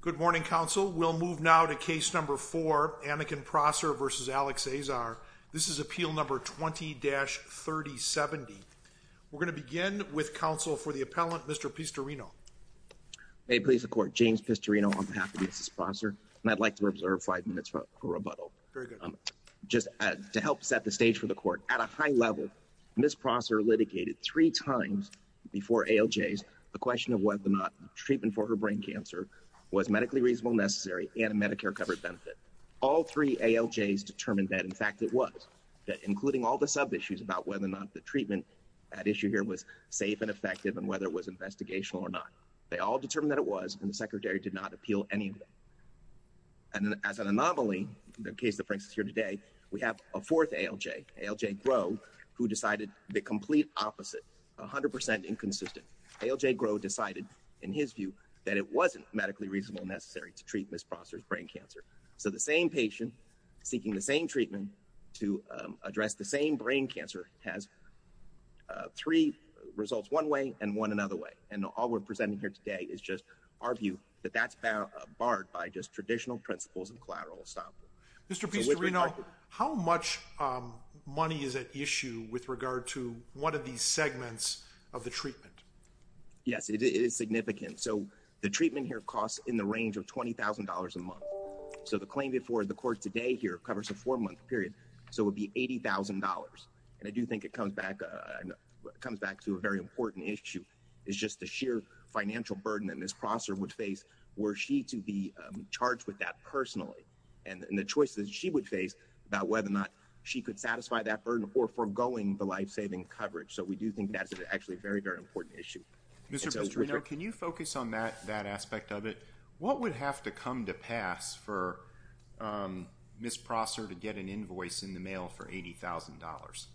Good morning, counsel. We'll move now to case number four, Aniken Prosser v. Alex Azar. This is appeal number 20-3070. We're going to begin with counsel for the appellant, Mr. Pistorino. May it please the court, James Pistorino on behalf of Mrs. Prosser, and I'd like to observe five minutes for rebuttal. Very good. Just to help set the stage for the court, at a high level, Ms. Prosser litigated three times before ALJs the question of whether or not treatment for her brain cancer was medically reasonable, necessary, and a Medicare-covered benefit. All three ALJs determined that, in fact, it was, that including all the sub-issues about whether or not the treatment, that issue here was safe and effective and whether it was investigational or not. They all determined that it was, and the secretary did not appeal any of them. And as an anomaly, the case that brings us here today, we have a fourth ALJ, ALJ Grow, who decided the complete opposite, 100% inconsistent. ALJ Grow decided, in his view, that it wasn't medically reasonable and necessary to treat Ms. Prosser's brain cancer. So the same patient seeking the same treatment to address the same brain cancer has three results, one way and one another way. And all we're presenting here today is just our view that that's barred by just traditional principles of collateral estoppel. Mr. Pistorino, how much money is at issue with regard to one of these segments of the treatment? Yes, it is significant. So the treatment here costs in the range of $20,000 a month. So the claim before the court today here covers a four-month period. So it would be $80,000. And I do think it comes back to a very important issue, is just the sheer financial burden that Ms. Prosser would face were she to be charged with that personally. And the choices she would face about whether or not she could satisfy that burden or foregoing the life-saving coverage. So we do think that's actually a very, very important issue. Mr. Pistorino, can you focus on that aspect of it? What would have to come to pass for Ms. Prosser to get an invoice in the mail for $80,000?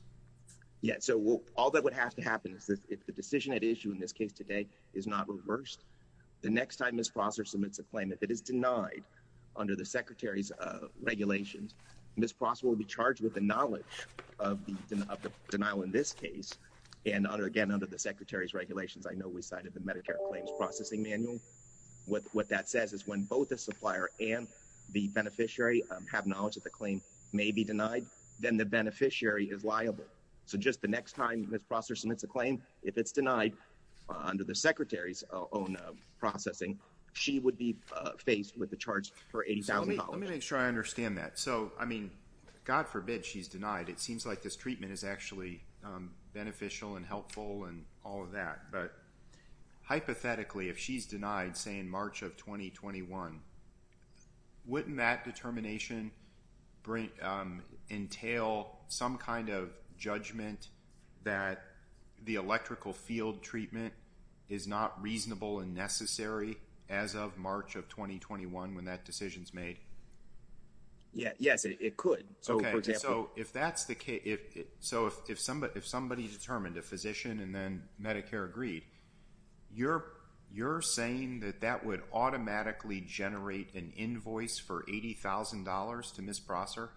Yeah, so all that would have to happen is if the decision at issue in this case today is not reversed, the next time Ms. Prosser submits a claim, if it is denied under the Secretary's regulations, Ms. Prosser will be charged with the knowledge of the denial in this case. And again, under the Secretary's regulations, I know we cited the Medicare Claims Processing Manual. What that says is when both the supplier and the beneficiary have knowledge that the claim may be denied, then the beneficiary is liable. So just the next time Ms. Prosser submits a claim, if it's denied under the Secretary's own processing, she would be faced with the charge for $80,000. Let me make sure I understand that. So, I mean, God forbid she's denied. It seems like this treatment is actually beneficial and helpful and all of that. But hypothetically, if she's denied, say in March of 2021, wouldn't that determination entail some kind of judgment that the electrical Yeah, yes, it could. Okay, so if that's the case, so if somebody determined a physician and then Medicare agreed, you're saying that that would automatically generate an invoice for $80,000 to Ms. Prosser?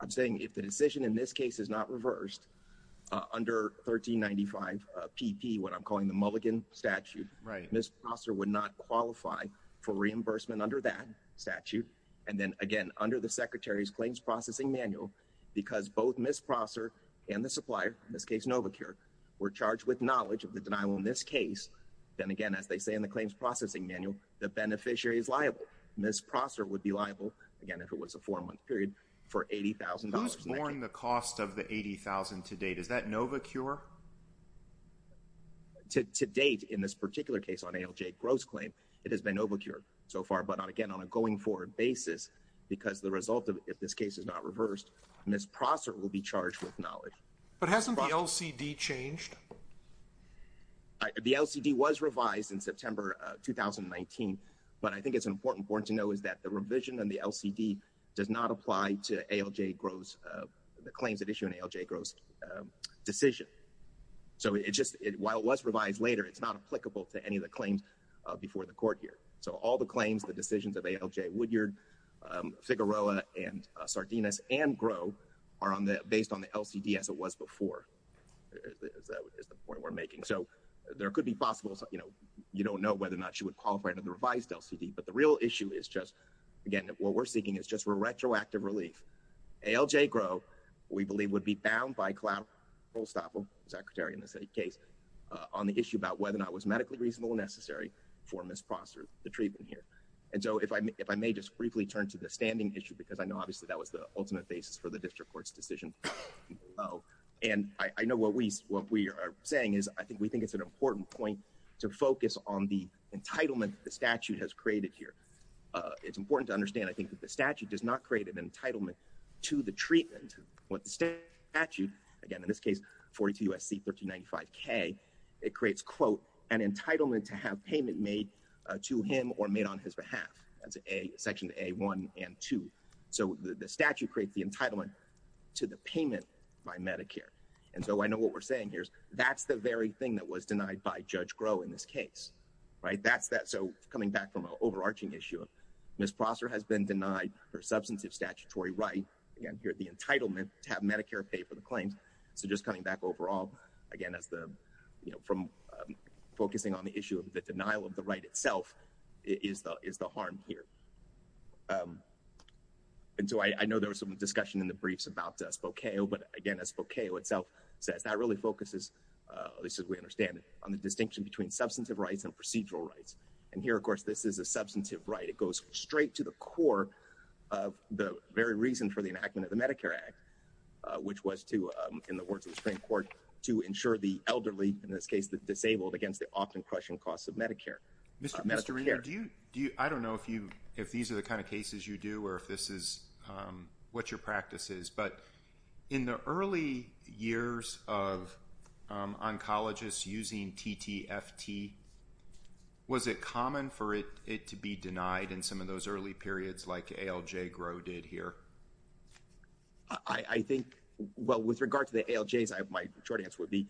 I'm saying if the decision in this case is not reversed under 1395 PP, what I'm calling the Mulligan statute, Ms. Prosser would not qualify for reimbursement under that statute. And then again, under the Secretary's claims processing manual, because both Ms. Prosser and the supplier, in this case, Novacure, were charged with knowledge of the denial in this case, then again, as they say in the claims processing manual, the beneficiary is liable. Ms. Prosser would be liable, again, if it was a four-month period, for $80,000. Who's borne the cost of the $80,000 to date? Is that Novacure? To date, in this particular case on ALJ Gross claim, it has been Novacure so far, but again, on a going forward basis, because the result of if this case is not reversed, Ms. Prosser will be charged with knowledge. But hasn't the LCD changed? The LCD was revised in September 2019, but I think it's important to know is that the revision and the LCD does not apply to ALJ Gross, the claims that issue an ALJ Gross decision. So it just, while it was revised later, it's not applicable to any of the claims before the court here. So all the claims, the decisions of ALJ Woodyard, Figueroa, and Sardinus, and Gross, are based on the LCD as it was before, is the point we're making. So there could be possible, you know, you don't know whether or not she would qualify under the revised LCD, but the real issue is just, again, what we're seeking is just retroactive relief. ALJ Gross, we believe, would be bound by Claude Rolstaple, Secretary in this case, on the issue about whether or not it was medically reasonable and necessary for Ms. Prosser, the treatment here. And so if I may just briefly turn to the standing issue, because I know obviously that was the ultimate basis for the District Court's decision. And I know what we are saying is, I think we think it's an important point to focus on the entitlement to the treatment. What the statute, again, in this case, 42 U.S.C. 1395K, it creates, quote, an entitlement to have payment made to him or made on his behalf. That's section A1 and 2. So the statute creates the entitlement to the payment by Medicare. And so I know what we're saying here is that's the very thing that was denied by Judge Groh in this substantive statutory right. Again, here, the entitlement to have Medicare pay for the claims. So just coming back overall, again, as the, you know, from focusing on the issue of the denial of the right itself is the harm here. And so I know there was some discussion in the briefs about Spokane, but again, as Spokane itself says, that really focuses, at least as we understand it, on the distinction between substantive rights and procedural rights. And here, of course, this is a substantive right. It goes straight to the core of the very reason for the enactment of the Medicare Act, which was to, in the words of the Supreme Court, to ensure the elderly, in this case, the disabled, against the often crushing costs of Medicare. Mr. Reader, I don't know if these are the kind of cases you do or if this is what your practice is, but in the early years of oncologists using TTFT, was it common for it to be denied in some of those early periods like ALJ Groh did here? I think, well, with regard to the ALJs, my short answer would be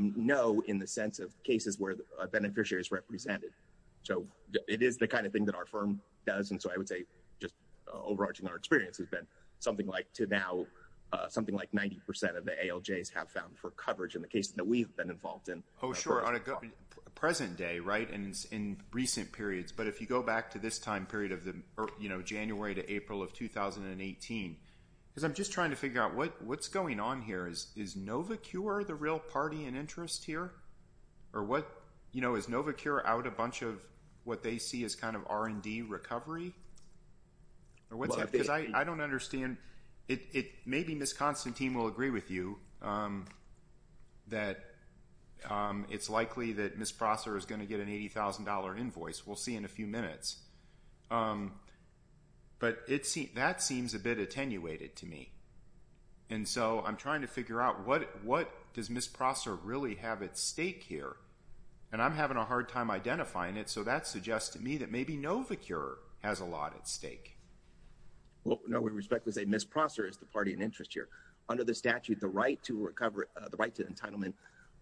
no in the sense of cases where a beneficiary is represented. So it is the kind of thing that our firm does, and so I would say just overarching our experience has been something like, to now, something like 90% of the ALJs have found for coverage in the cases that we've been involved in. Oh, sure. On a present day, right, and in recent periods, but if you go back to this time period of the, you know, January to April of 2018, because I'm just trying to figure out what's going on here. Is Novacure the real party in interest here? Or what, you know, is Novacure out a bunch of what they see as kind of R&D recovery? Or what's that? Because I don't understand. It, maybe Ms. Constantine will agree with you that it's likely that Ms. Prosser is going to get an $80,000 invoice. We'll see in a few minutes. But it seems, that seems a bit attenuated to me, and so I'm trying to figure out what, what does Ms. Prosser really have at stake here? And I'm having a hard time identifying it, so that suggests to me that maybe Novacure has a lot at stake. Well, no, we respectfully say Ms. Prosser is the party in interest here. Under the statute, the right to recover, the right to entitlement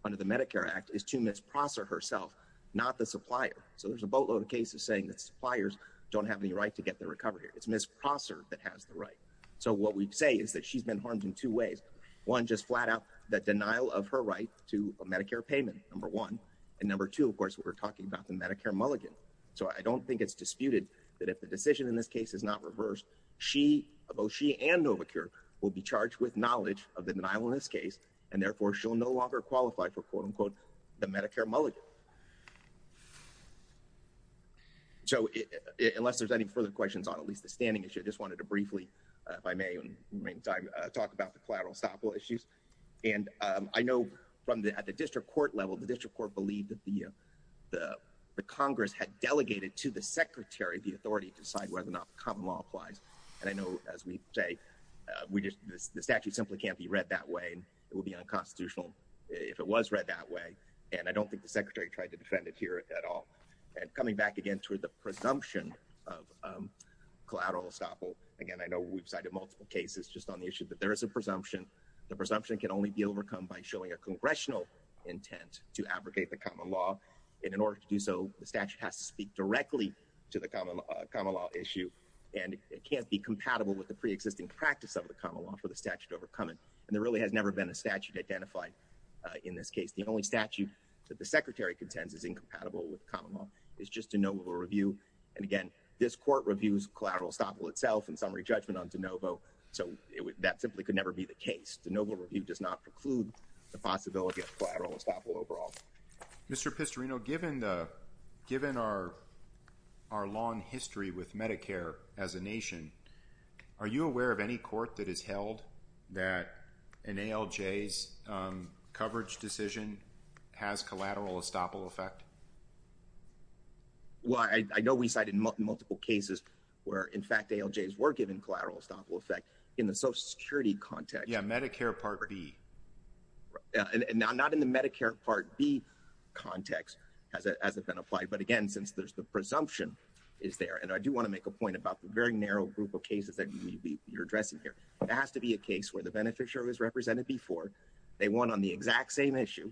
under the Medicare Act is to Ms. Prosser herself, not the supplier. So there's a boatload of cases saying that suppliers don't have any right to get the recovery. It's Ms. Prosser that has the right. So what we say is that she's been harmed in two ways. One, just flat out, that denial of her right to a Medicare payment, number one. And number two, of course, we're talking about the Medicare mulligan. So I don't think it's disputed that if the decision in this case is not reversed, she, both she and Novacure, will be charged with knowledge of the denial in this case, and therefore she'll no longer qualify for, quote, unquote, the Medicare mulligan. So unless there's any further questions on at least the standing issue, I just wanted to briefly, if I may, talk about the collateral estoppel issues. And I know from at the district court level, the district court believed that the Congress had delegated to the Secretary the authority to decide whether or not the common law applies. And I know, as we say, the statute simply can't be read that way. It would be unconstitutional if it was read that way. And I don't think the Secretary tried to defend it here at all. And coming back again to the presumption of collateral estoppel, again, I know we've cited multiple cases just on the issue that there is a presumption. The presumption can only be overcome by showing a congressional intent to abrogate the common law. And in order to do so, the statute has to speak directly to the common law issue. And it can't be compatible with the pre-existing practice of the common law for the statute to overcome it. And there really has never been a statute identified in this case. The only statute that the Secretary contends is incompatible with common law is just de novo review. And again, this court reviews collateral estoppel itself and summary could never be the case. De novo review does not preclude the possibility of collateral estoppel overall. Mr. Pistorino, given our long history with Medicare as a nation, are you aware of any court that has held that an ALJ's coverage decision has collateral estoppel effect? Well, I know we cited multiple cases where, in fact, ALJs were given collateral estoppel effect. In the Social Security context. Yeah, Medicare Part B. Not in the Medicare Part B context, as it has been applied. But again, since there's the presumption is there. And I do want to make a point about the very narrow group of cases that you're addressing here. It has to be a case where the beneficiary was represented before. They won on the exact same issue.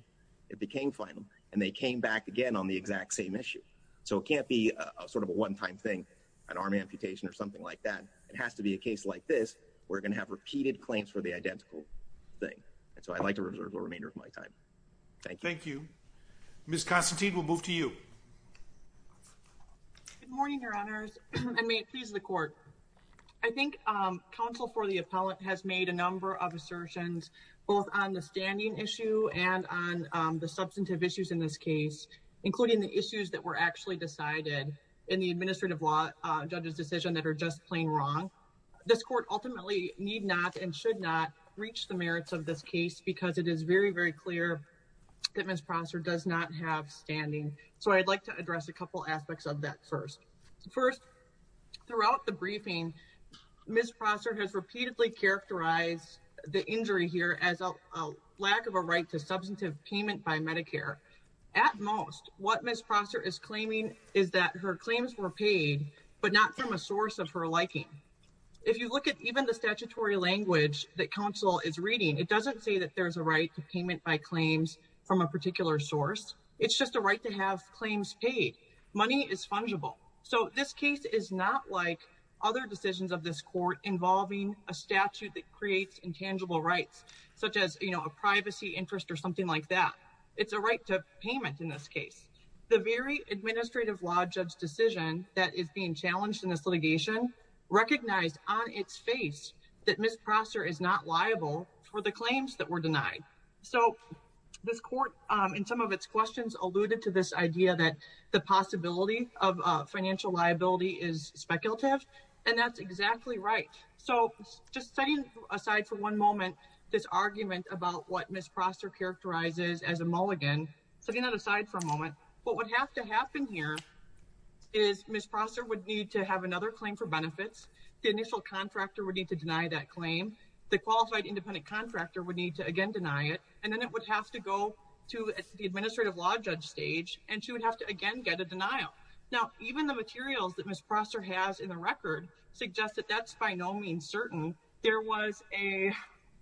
It became final. And they came back again on the exact same issue. So it can't be a sort of a one-time thing, an arm amputation or something like that. It has to be a case like this. We're going to have repeated claims for the identical thing. And so I'd like to reserve the remainder of my time. Thank you. Thank you. Ms. Constantine, we'll move to you. Good morning, Your Honors. And may it please the court. I think counsel for the appellant has made a number of assertions, both on the standing issue and on the substantive issues in this case, including the issues that were actually decided in the administrative law decision that are just plain wrong. This court ultimately need not and should not reach the merits of this case because it is very, very clear that Ms. Prosser does not have standing. So I'd like to address a couple aspects of that first. First, throughout the briefing, Ms. Prosser has repeatedly characterized the injury here as a lack of a right to substantive payment by Medicare. At most, what Ms. Prosser is claiming is that her claims were paid, but not from a source of her liking. If you look at even the statutory language that counsel is reading, it doesn't say that there's a right to payment by claims from a particular source. It's just a right to have claims paid. Money is fungible. So this case is not like other decisions of this court involving a statute that creates intangible rights, such as a privacy interest or something like that. It's a right to payment in this case. The very administrative law judge that is being challenged in this litigation recognized on its face that Ms. Prosser is not liable for the claims that were denied. So this court, in some of its questions, alluded to this idea that the possibility of financial liability is speculative, and that's exactly right. So just setting aside for one moment this argument about what Ms. Prosser characterizes as a mulligan, setting that aside for a moment, what would have to is Ms. Prosser would need to have another claim for benefits. The initial contractor would need to deny that claim. The qualified independent contractor would need to again deny it, and then it would have to go to the administrative law judge stage, and she would have to again get a denial. Now, even the materials that Ms. Prosser has in the record suggest that that's by no means certain. There was a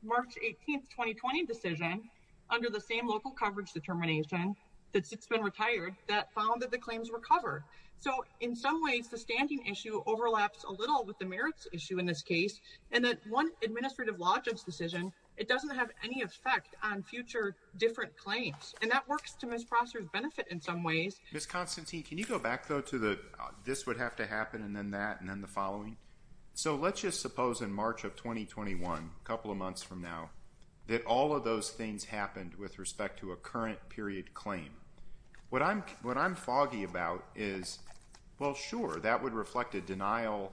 March 18th, 2020 decision under the same local coverage determination that's been retired that found that the claims were covered. So in some ways, the standing issue overlaps a little with the merits issue in this case, and that one administrative law judge decision, it doesn't have any effect on future different claims, and that works to Ms. Prosser's benefit in some ways. Ms. Constantine, can you go back though to the this would have to happen and then that and then the following? So let's just suppose in March of 2021, a couple of months from now, that all of those things happened with respect to a current period claim. What I'm foggy about is, well, sure, that would reflect a denial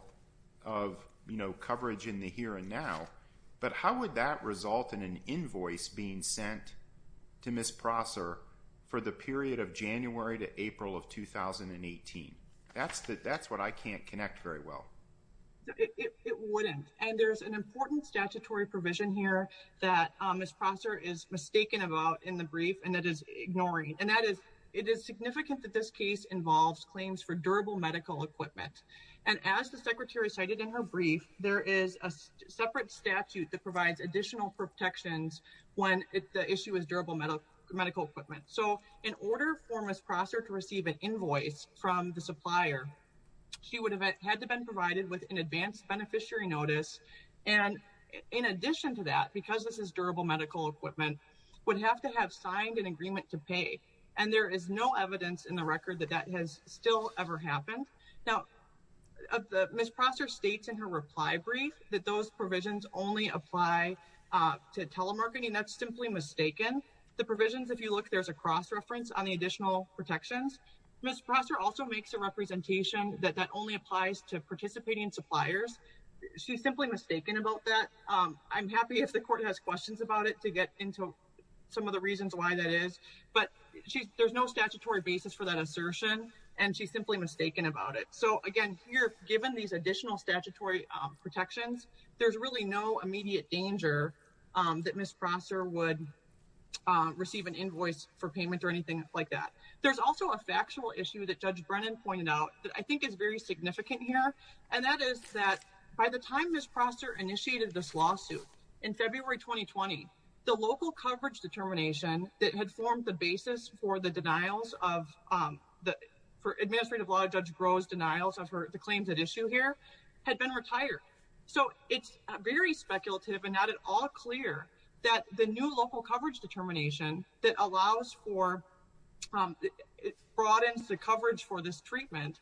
of, you know, coverage in the here and now, but how would that result in an invoice being sent to Ms. Prosser for the period of January to April of 2018? That's what I can't connect very well. It wouldn't, and there's an important statutory provision here that Ms. Prosser is mistaken about in the brief, and that is ignoring, and that is, it is significant that this case involves claims for durable medical equipment. And as the secretary cited in her brief, there is a separate statute that provides additional protections when the issue is durable medical equipment. So in order for Ms. Prosser to receive an invoice from the supplier, she would have had to been provided with an advanced beneficiary notice. And in addition to that, because this is durable medical equipment, would have to have signed an agreement to pay. And there is no evidence in the record that that has still ever happened. Now, Ms. Prosser states in her reply brief, that those provisions only apply to telemarketing. That's simply mistaken. The provisions, if you look, there's a cross reference on the additional protections. Ms. Prosser also makes a representation that that applies to participating suppliers. She's simply mistaken about that. I'm happy if the court has questions about it to get into some of the reasons why that is, but there's no statutory basis for that assertion, and she's simply mistaken about it. So again, here, given these additional statutory protections, there's really no immediate danger that Ms. Prosser would receive an invoice for payment or anything like that. There's also a factual issue that Judge Brennan pointed out that I think is very significant here, and that is that by the time Ms. Prosser initiated this lawsuit in February 2020, the local coverage determination that had formed the basis for the denials of the, for Administrative Law Judge Groh's denials of the claims at issue here, had been retired. So it's very speculative and not at all clear that the new local coverage determination that allows for, broadens the coverage for this treatment,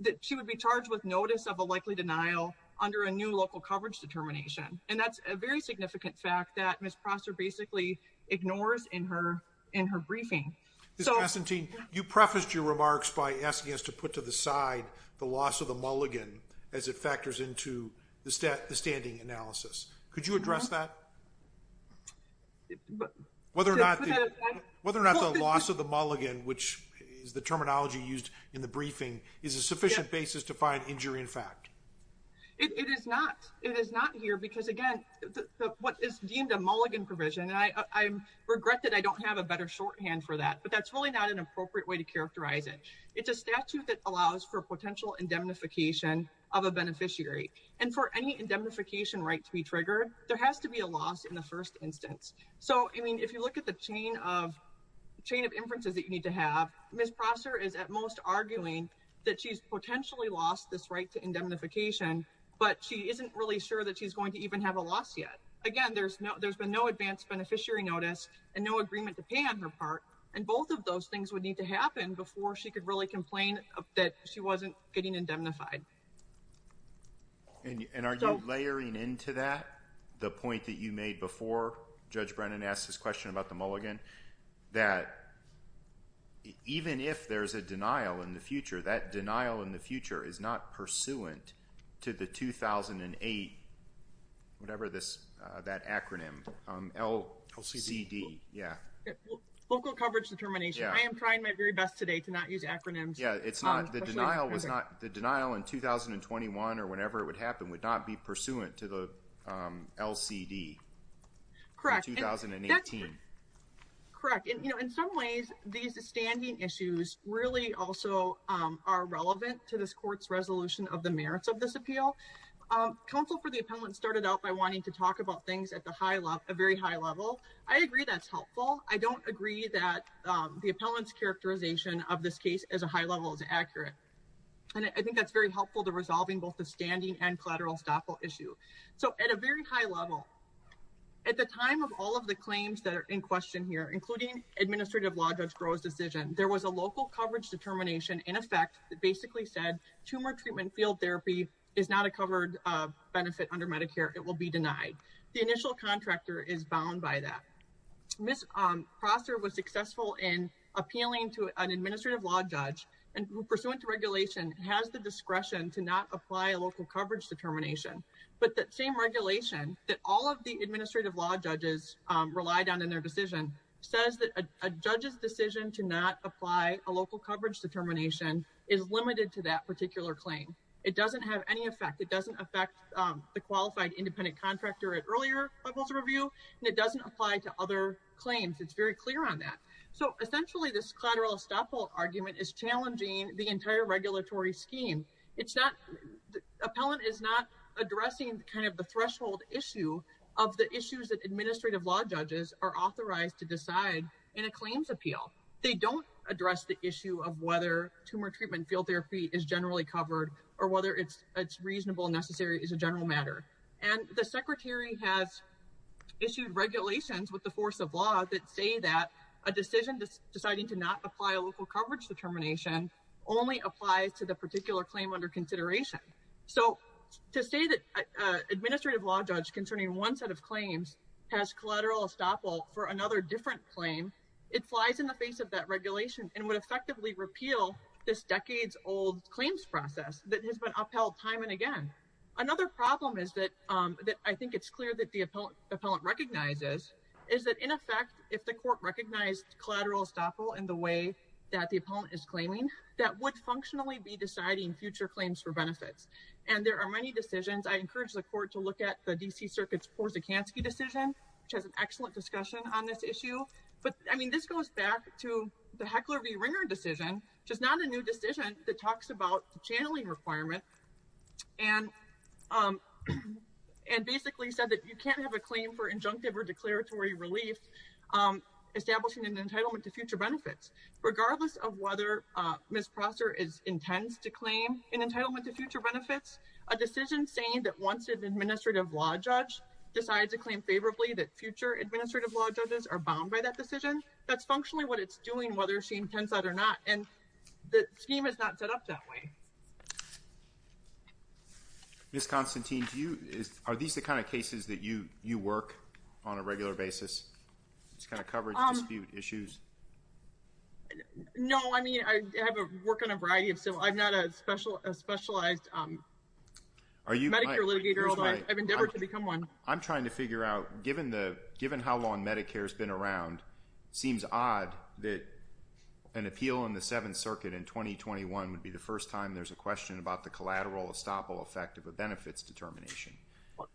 that she would be charged with notice of a likely denial under a new local coverage determination. And that's a very significant fact that Ms. Prosser basically ignores in her briefing. Ms. Castantine, you prefaced your remarks by asking us to put to the side the loss of the mulligan as it factors into the standing analysis. Could you address that? Whether or not the loss of the mulligan, which is the terminology used in the briefing, is a sufficient basis to find injury in fact? It is not. It is not here because, again, what is deemed a mulligan provision, and I regret that I don't have a better shorthand for that, but that's really not an appropriate way to characterize it. It's a statute that allows for potential indemnification of a beneficiary. And for any indemnification right to be triggered, there has to be a loss in the first instance. So, I mean, if you look at the chain of inferences that you need to have, Ms. Prosser is at most arguing that she's potentially lost this right to indemnification, but she isn't really sure that she's going to even have a loss yet. Again, there's been no advanced beneficiary notice and no agreement to pay on her part, and both of those things would need to happen before she could really complain that she wasn't getting indemnified. And are you layering into that the point that you made before Judge Brennan asked his question about the mulligan, that even if there's a denial in the future, that denial in the future is not pursuant to the 2008, whatever this, that acronym, LCD, yeah. Local coverage determination. I am trying my very best today to not use acronyms. Yeah, it's not. The denial was not, the denial in 2021 or whenever it would happen would not be pursuant to the LCD. Correct. In 2018. Correct. And, you know, in some ways, these standing issues really also are relevant to this court's resolution of the merits of this appeal. Counsel for the appellant started out by wanting to talk about things at the high level, very high level. I agree that's helpful. I don't agree that the appellant's characterization of this case as a high level is accurate. And I think that's very helpful to resolving both the standing and collateral estoppel issue. So at a very high level, at the time of all of the claims that are in question here, including Administrative Law Judge Groh's decision, there was a local coverage determination in effect that basically said tumor treatment field therapy is not a covered benefit under Medicare. It will be denied. The initial contractor is bound by that. Ms. Prosser was successful in appealing to an Administrative Law Judge and pursuant to regulation has the discretion to not apply a local coverage determination. But that same regulation that all of the Administrative Law Judges relied on in their decision says that a judge's decision to not apply a local coverage determination is limited to that particular claim. It doesn't have any effect. It doesn't affect the qualified independent contractor at earlier levels of review, and it doesn't apply to other claims. It's very clear on that. So essentially, this collateral estoppel argument is challenging the entire regulatory scheme. It's not, the appellant is not addressing kind of the threshold issue of the issues that Administrative Law Judges are authorized to decide in a claims appeal. They don't address the issue of whether tumor treatment field therapy is generally covered or whether it's reasonable and necessary as a general matter. And the Secretary has issued regulations with the force of law that say that a decision deciding to not apply a local coverage determination only applies to the particular claim under consideration. So to say that Administrative Law Judge concerning one set of claims has collateral estoppel for another different claim, it flies in the face of that regulation and would effectively repeal this has been upheld time and again. Another problem is that I think it's clear that the appellant recognizes is that in effect, if the court recognized collateral estoppel in the way that the appellant is claiming, that would functionally be deciding future claims for benefits. And there are many decisions. I encourage the court to look at the D.C. Circuit's Porzekanski decision, which has an excellent discussion on this issue. But I mean, this goes back to the Heckler v. Ringer decision, which is not a new decision that talks about the channeling requirement and basically said that you can't have a claim for injunctive or declaratory relief, establishing an entitlement to future benefits, regardless of whether Ms. Prosser is intends to claim an entitlement to future benefits, a decision saying that once an Administrative Law Judge decides to claim favorably that future Administrative Law Judges are bound by that decision, that's functionally what it's doing, whether she is or is not set up that way. Ms. Constantine, are these the kind of cases that you work on a regular basis? It's kind of coverage dispute issues. No, I mean, I have a work on a variety of civil. I'm not a specialized Medicare litigator, although I've endeavored to become one. I'm trying to figure out, given how long Medicare has been around, seems odd that an appeal in the Seventh Circuit in 2021 would be the first time there's a question about the collateral estoppel effect of a benefits determination.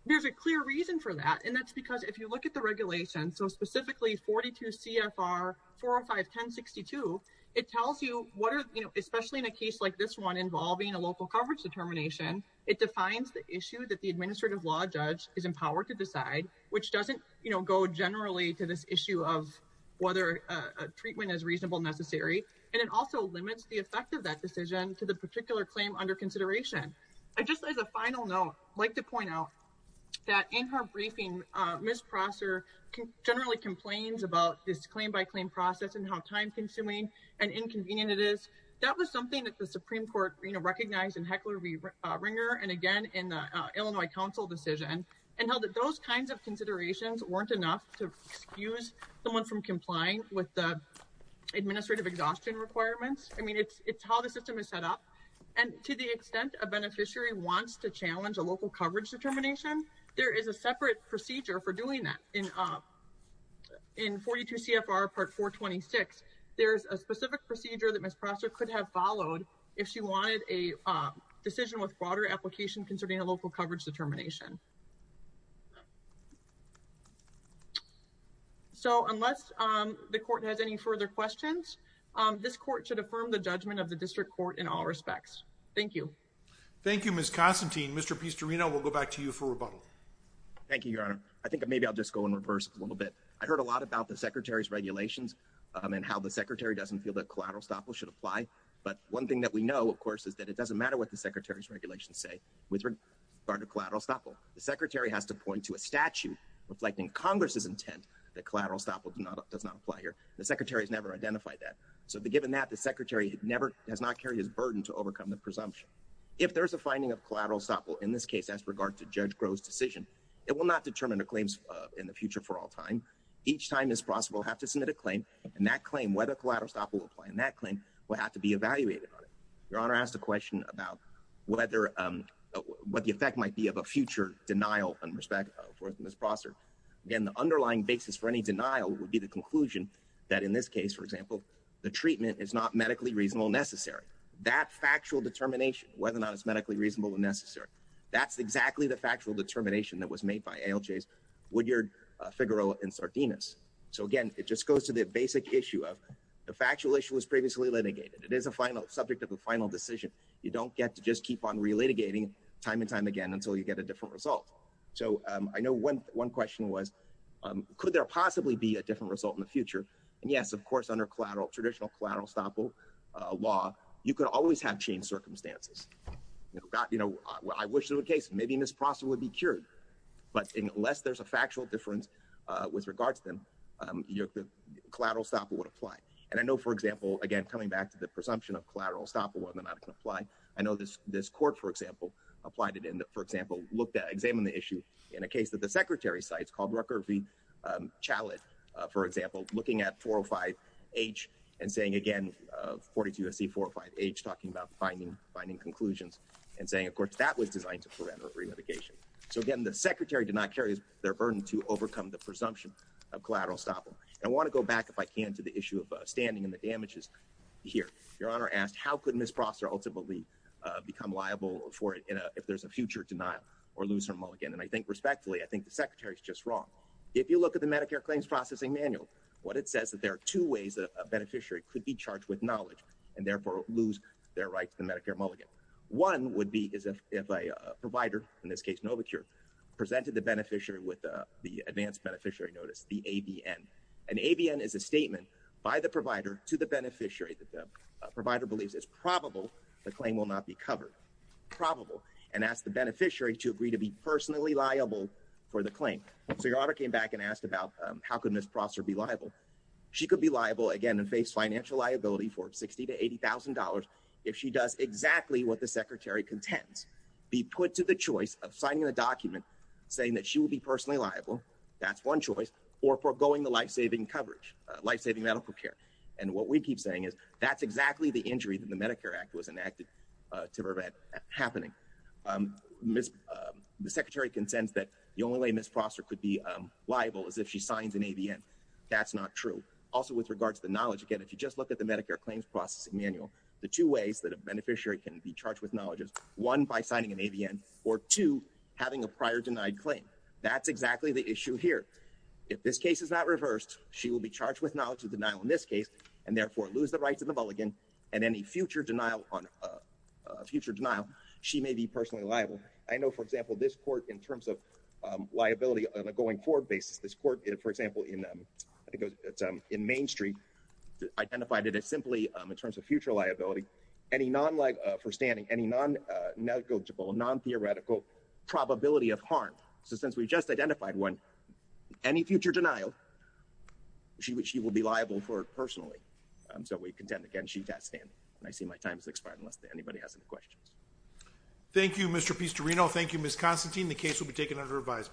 There's a clear reason for that, and that's because if you look at the regulations, so specifically 42 CFR 405-1062, it tells you what are, you know, especially in a case like this one involving a local coverage determination, it defines the issue that the Administrative Law is empowered to decide, which doesn't, you know, go generally to this issue of whether treatment is reasonable, necessary. And it also limits the effect of that decision to the particular claim under consideration. I just, as a final note, like to point out that in her briefing, Ms. Prosser generally complains about this claim by claim process and how time consuming and inconvenient it is. That was something that the Supreme Court, you know, recognized in Heckler-Ringer and again, in the Illinois Council decision and held that those kinds of considerations weren't enough to excuse someone from complying with the administrative exhaustion requirements. I mean, it's how the system is set up. And to the extent a beneficiary wants to challenge a local coverage determination, there is a separate procedure for doing that. In 42 CFR Part 426, there's a specific procedure that Ms. Prosser could have followed if she wanted a decision with broader application concerning a local coverage determination. So unless the court has any further questions, this court should affirm the judgment of the district court in all respects. Thank you. Thank you, Ms. Constantine. Mr. Pistorino, we'll go back to you for rebuttal. Thank you, Your Honor. I think maybe I'll just go in reverse a little bit. I heard a lot about the Secretary's regulations and how the Secretary doesn't feel that collateral should apply. But one thing that we know, of course, is that it doesn't matter what the Secretary's regulations say with regard to collateral estoppel. The Secretary has to point to a statute reflecting Congress's intent that collateral estoppel does not apply here. The Secretary has never identified that. So given that, the Secretary has not carried his burden to overcome the presumption. If there's a finding of collateral estoppel in this case as regard to Judge Groh's decision, it will not determine the claims in the future for all time. Each time Ms. Prosser will have to submit a claim, and that claim, whether collateral estoppel will apply in that claim, will have to be evaluated on it. Your Honor asked a question about what the effect might be of a future denial in respect of Ms. Prosser. Again, the underlying basis for any denial would be the conclusion that in this case, for example, the treatment is not medically reasonable and necessary. That factual determination, whether or not it's medically reasonable and necessary, that's exactly the factual determination that was made by ALJs Woodyard, Figueroa, and Sardinas. So again, it just goes to the basic issue of the factual issue was previously litigated. It is a final subject of the final decision. You don't get to just keep on relitigating time and time again until you get a different result. So I know one question was, could there possibly be a different result in the future? And yes, of course, under traditional collateral estoppel law, you could always have changed circumstances. I wish there were cases. Maybe Ms. Prosser would be cured. But unless there's a factual difference with regards to them, the collateral estoppel would apply. And I know, for example, again, coming back to the presumption of collateral estoppel, whether or not it can apply. I know this court, for example, examined the issue in a case that the secretary cites called Rucker v. Chalid, for example, looking at 405H and saying, again, 42SC405H, talking about finding conclusions and saying, of course, that was designed to prevent relitigation. So again, the secretary did not carry their burden to overcome the presumption of collateral estoppel. I want to go back, if I can, to the issue of standing and the damages here. Your Honor asked, how could Ms. Prosser ultimately become liable for it if there's a future denial or lose her mulligan? And I think respectfully, I think the secretary is just wrong. If you look at the Medicare Claims Processing Manual, what it says is that there are two ways that a beneficiary could be charged with knowledge and therefore lose their right to the Medicare mulligan. One would be if a provider, in this case, Novacure, presented the beneficiary with the advanced beneficiary notice, the ABN. An ABN is a statement by the provider to the beneficiary that the provider believes is probable the claim will not be covered. Probable. And ask the beneficiary to agree to be personally liable for the claim. So your Honor came back and asked about how could Ms. Prosser be liable? She could be liable, again, and face financial liability for $60,000 to $80,000 if she does exactly what the secretary contends. Be put to the choice of signing the document saying that she will be personally liable, that's one choice, or foregoing the life-saving coverage, life-saving medical care. And what we keep saying is that's exactly the injury that the Medicare Act was enacted to prevent happening. The secretary contends that the only way Ms. Prosser could be liable is if she signs an ABN. That's not true. Also, with regards to the knowledge, again, if you just look at the Medicare Claims Processing ways that a beneficiary can be charged with knowledge is, one, by signing an ABN, or two, having a prior denied claim. That's exactly the issue here. If this case is not reversed, she will be charged with knowledge of denial in this case and therefore lose the rights of the mulligan and any future denial she may be personally liable. I know, for example, this court, in terms of liability on a going-forward basis, this court, for example, in Main Street, identified it as simply, in terms of future liability, any non-liable, for standing, any non-negotiable, non-theoretical probability of harm. So since we've just identified one, any future denial, she will be liable for it personally. So we contend, again, she has standing. I see my time has expired unless anybody has any questions. Thank you, Mr. Pistorino. Thank you, Ms. Constantine. The case will be taken under revised.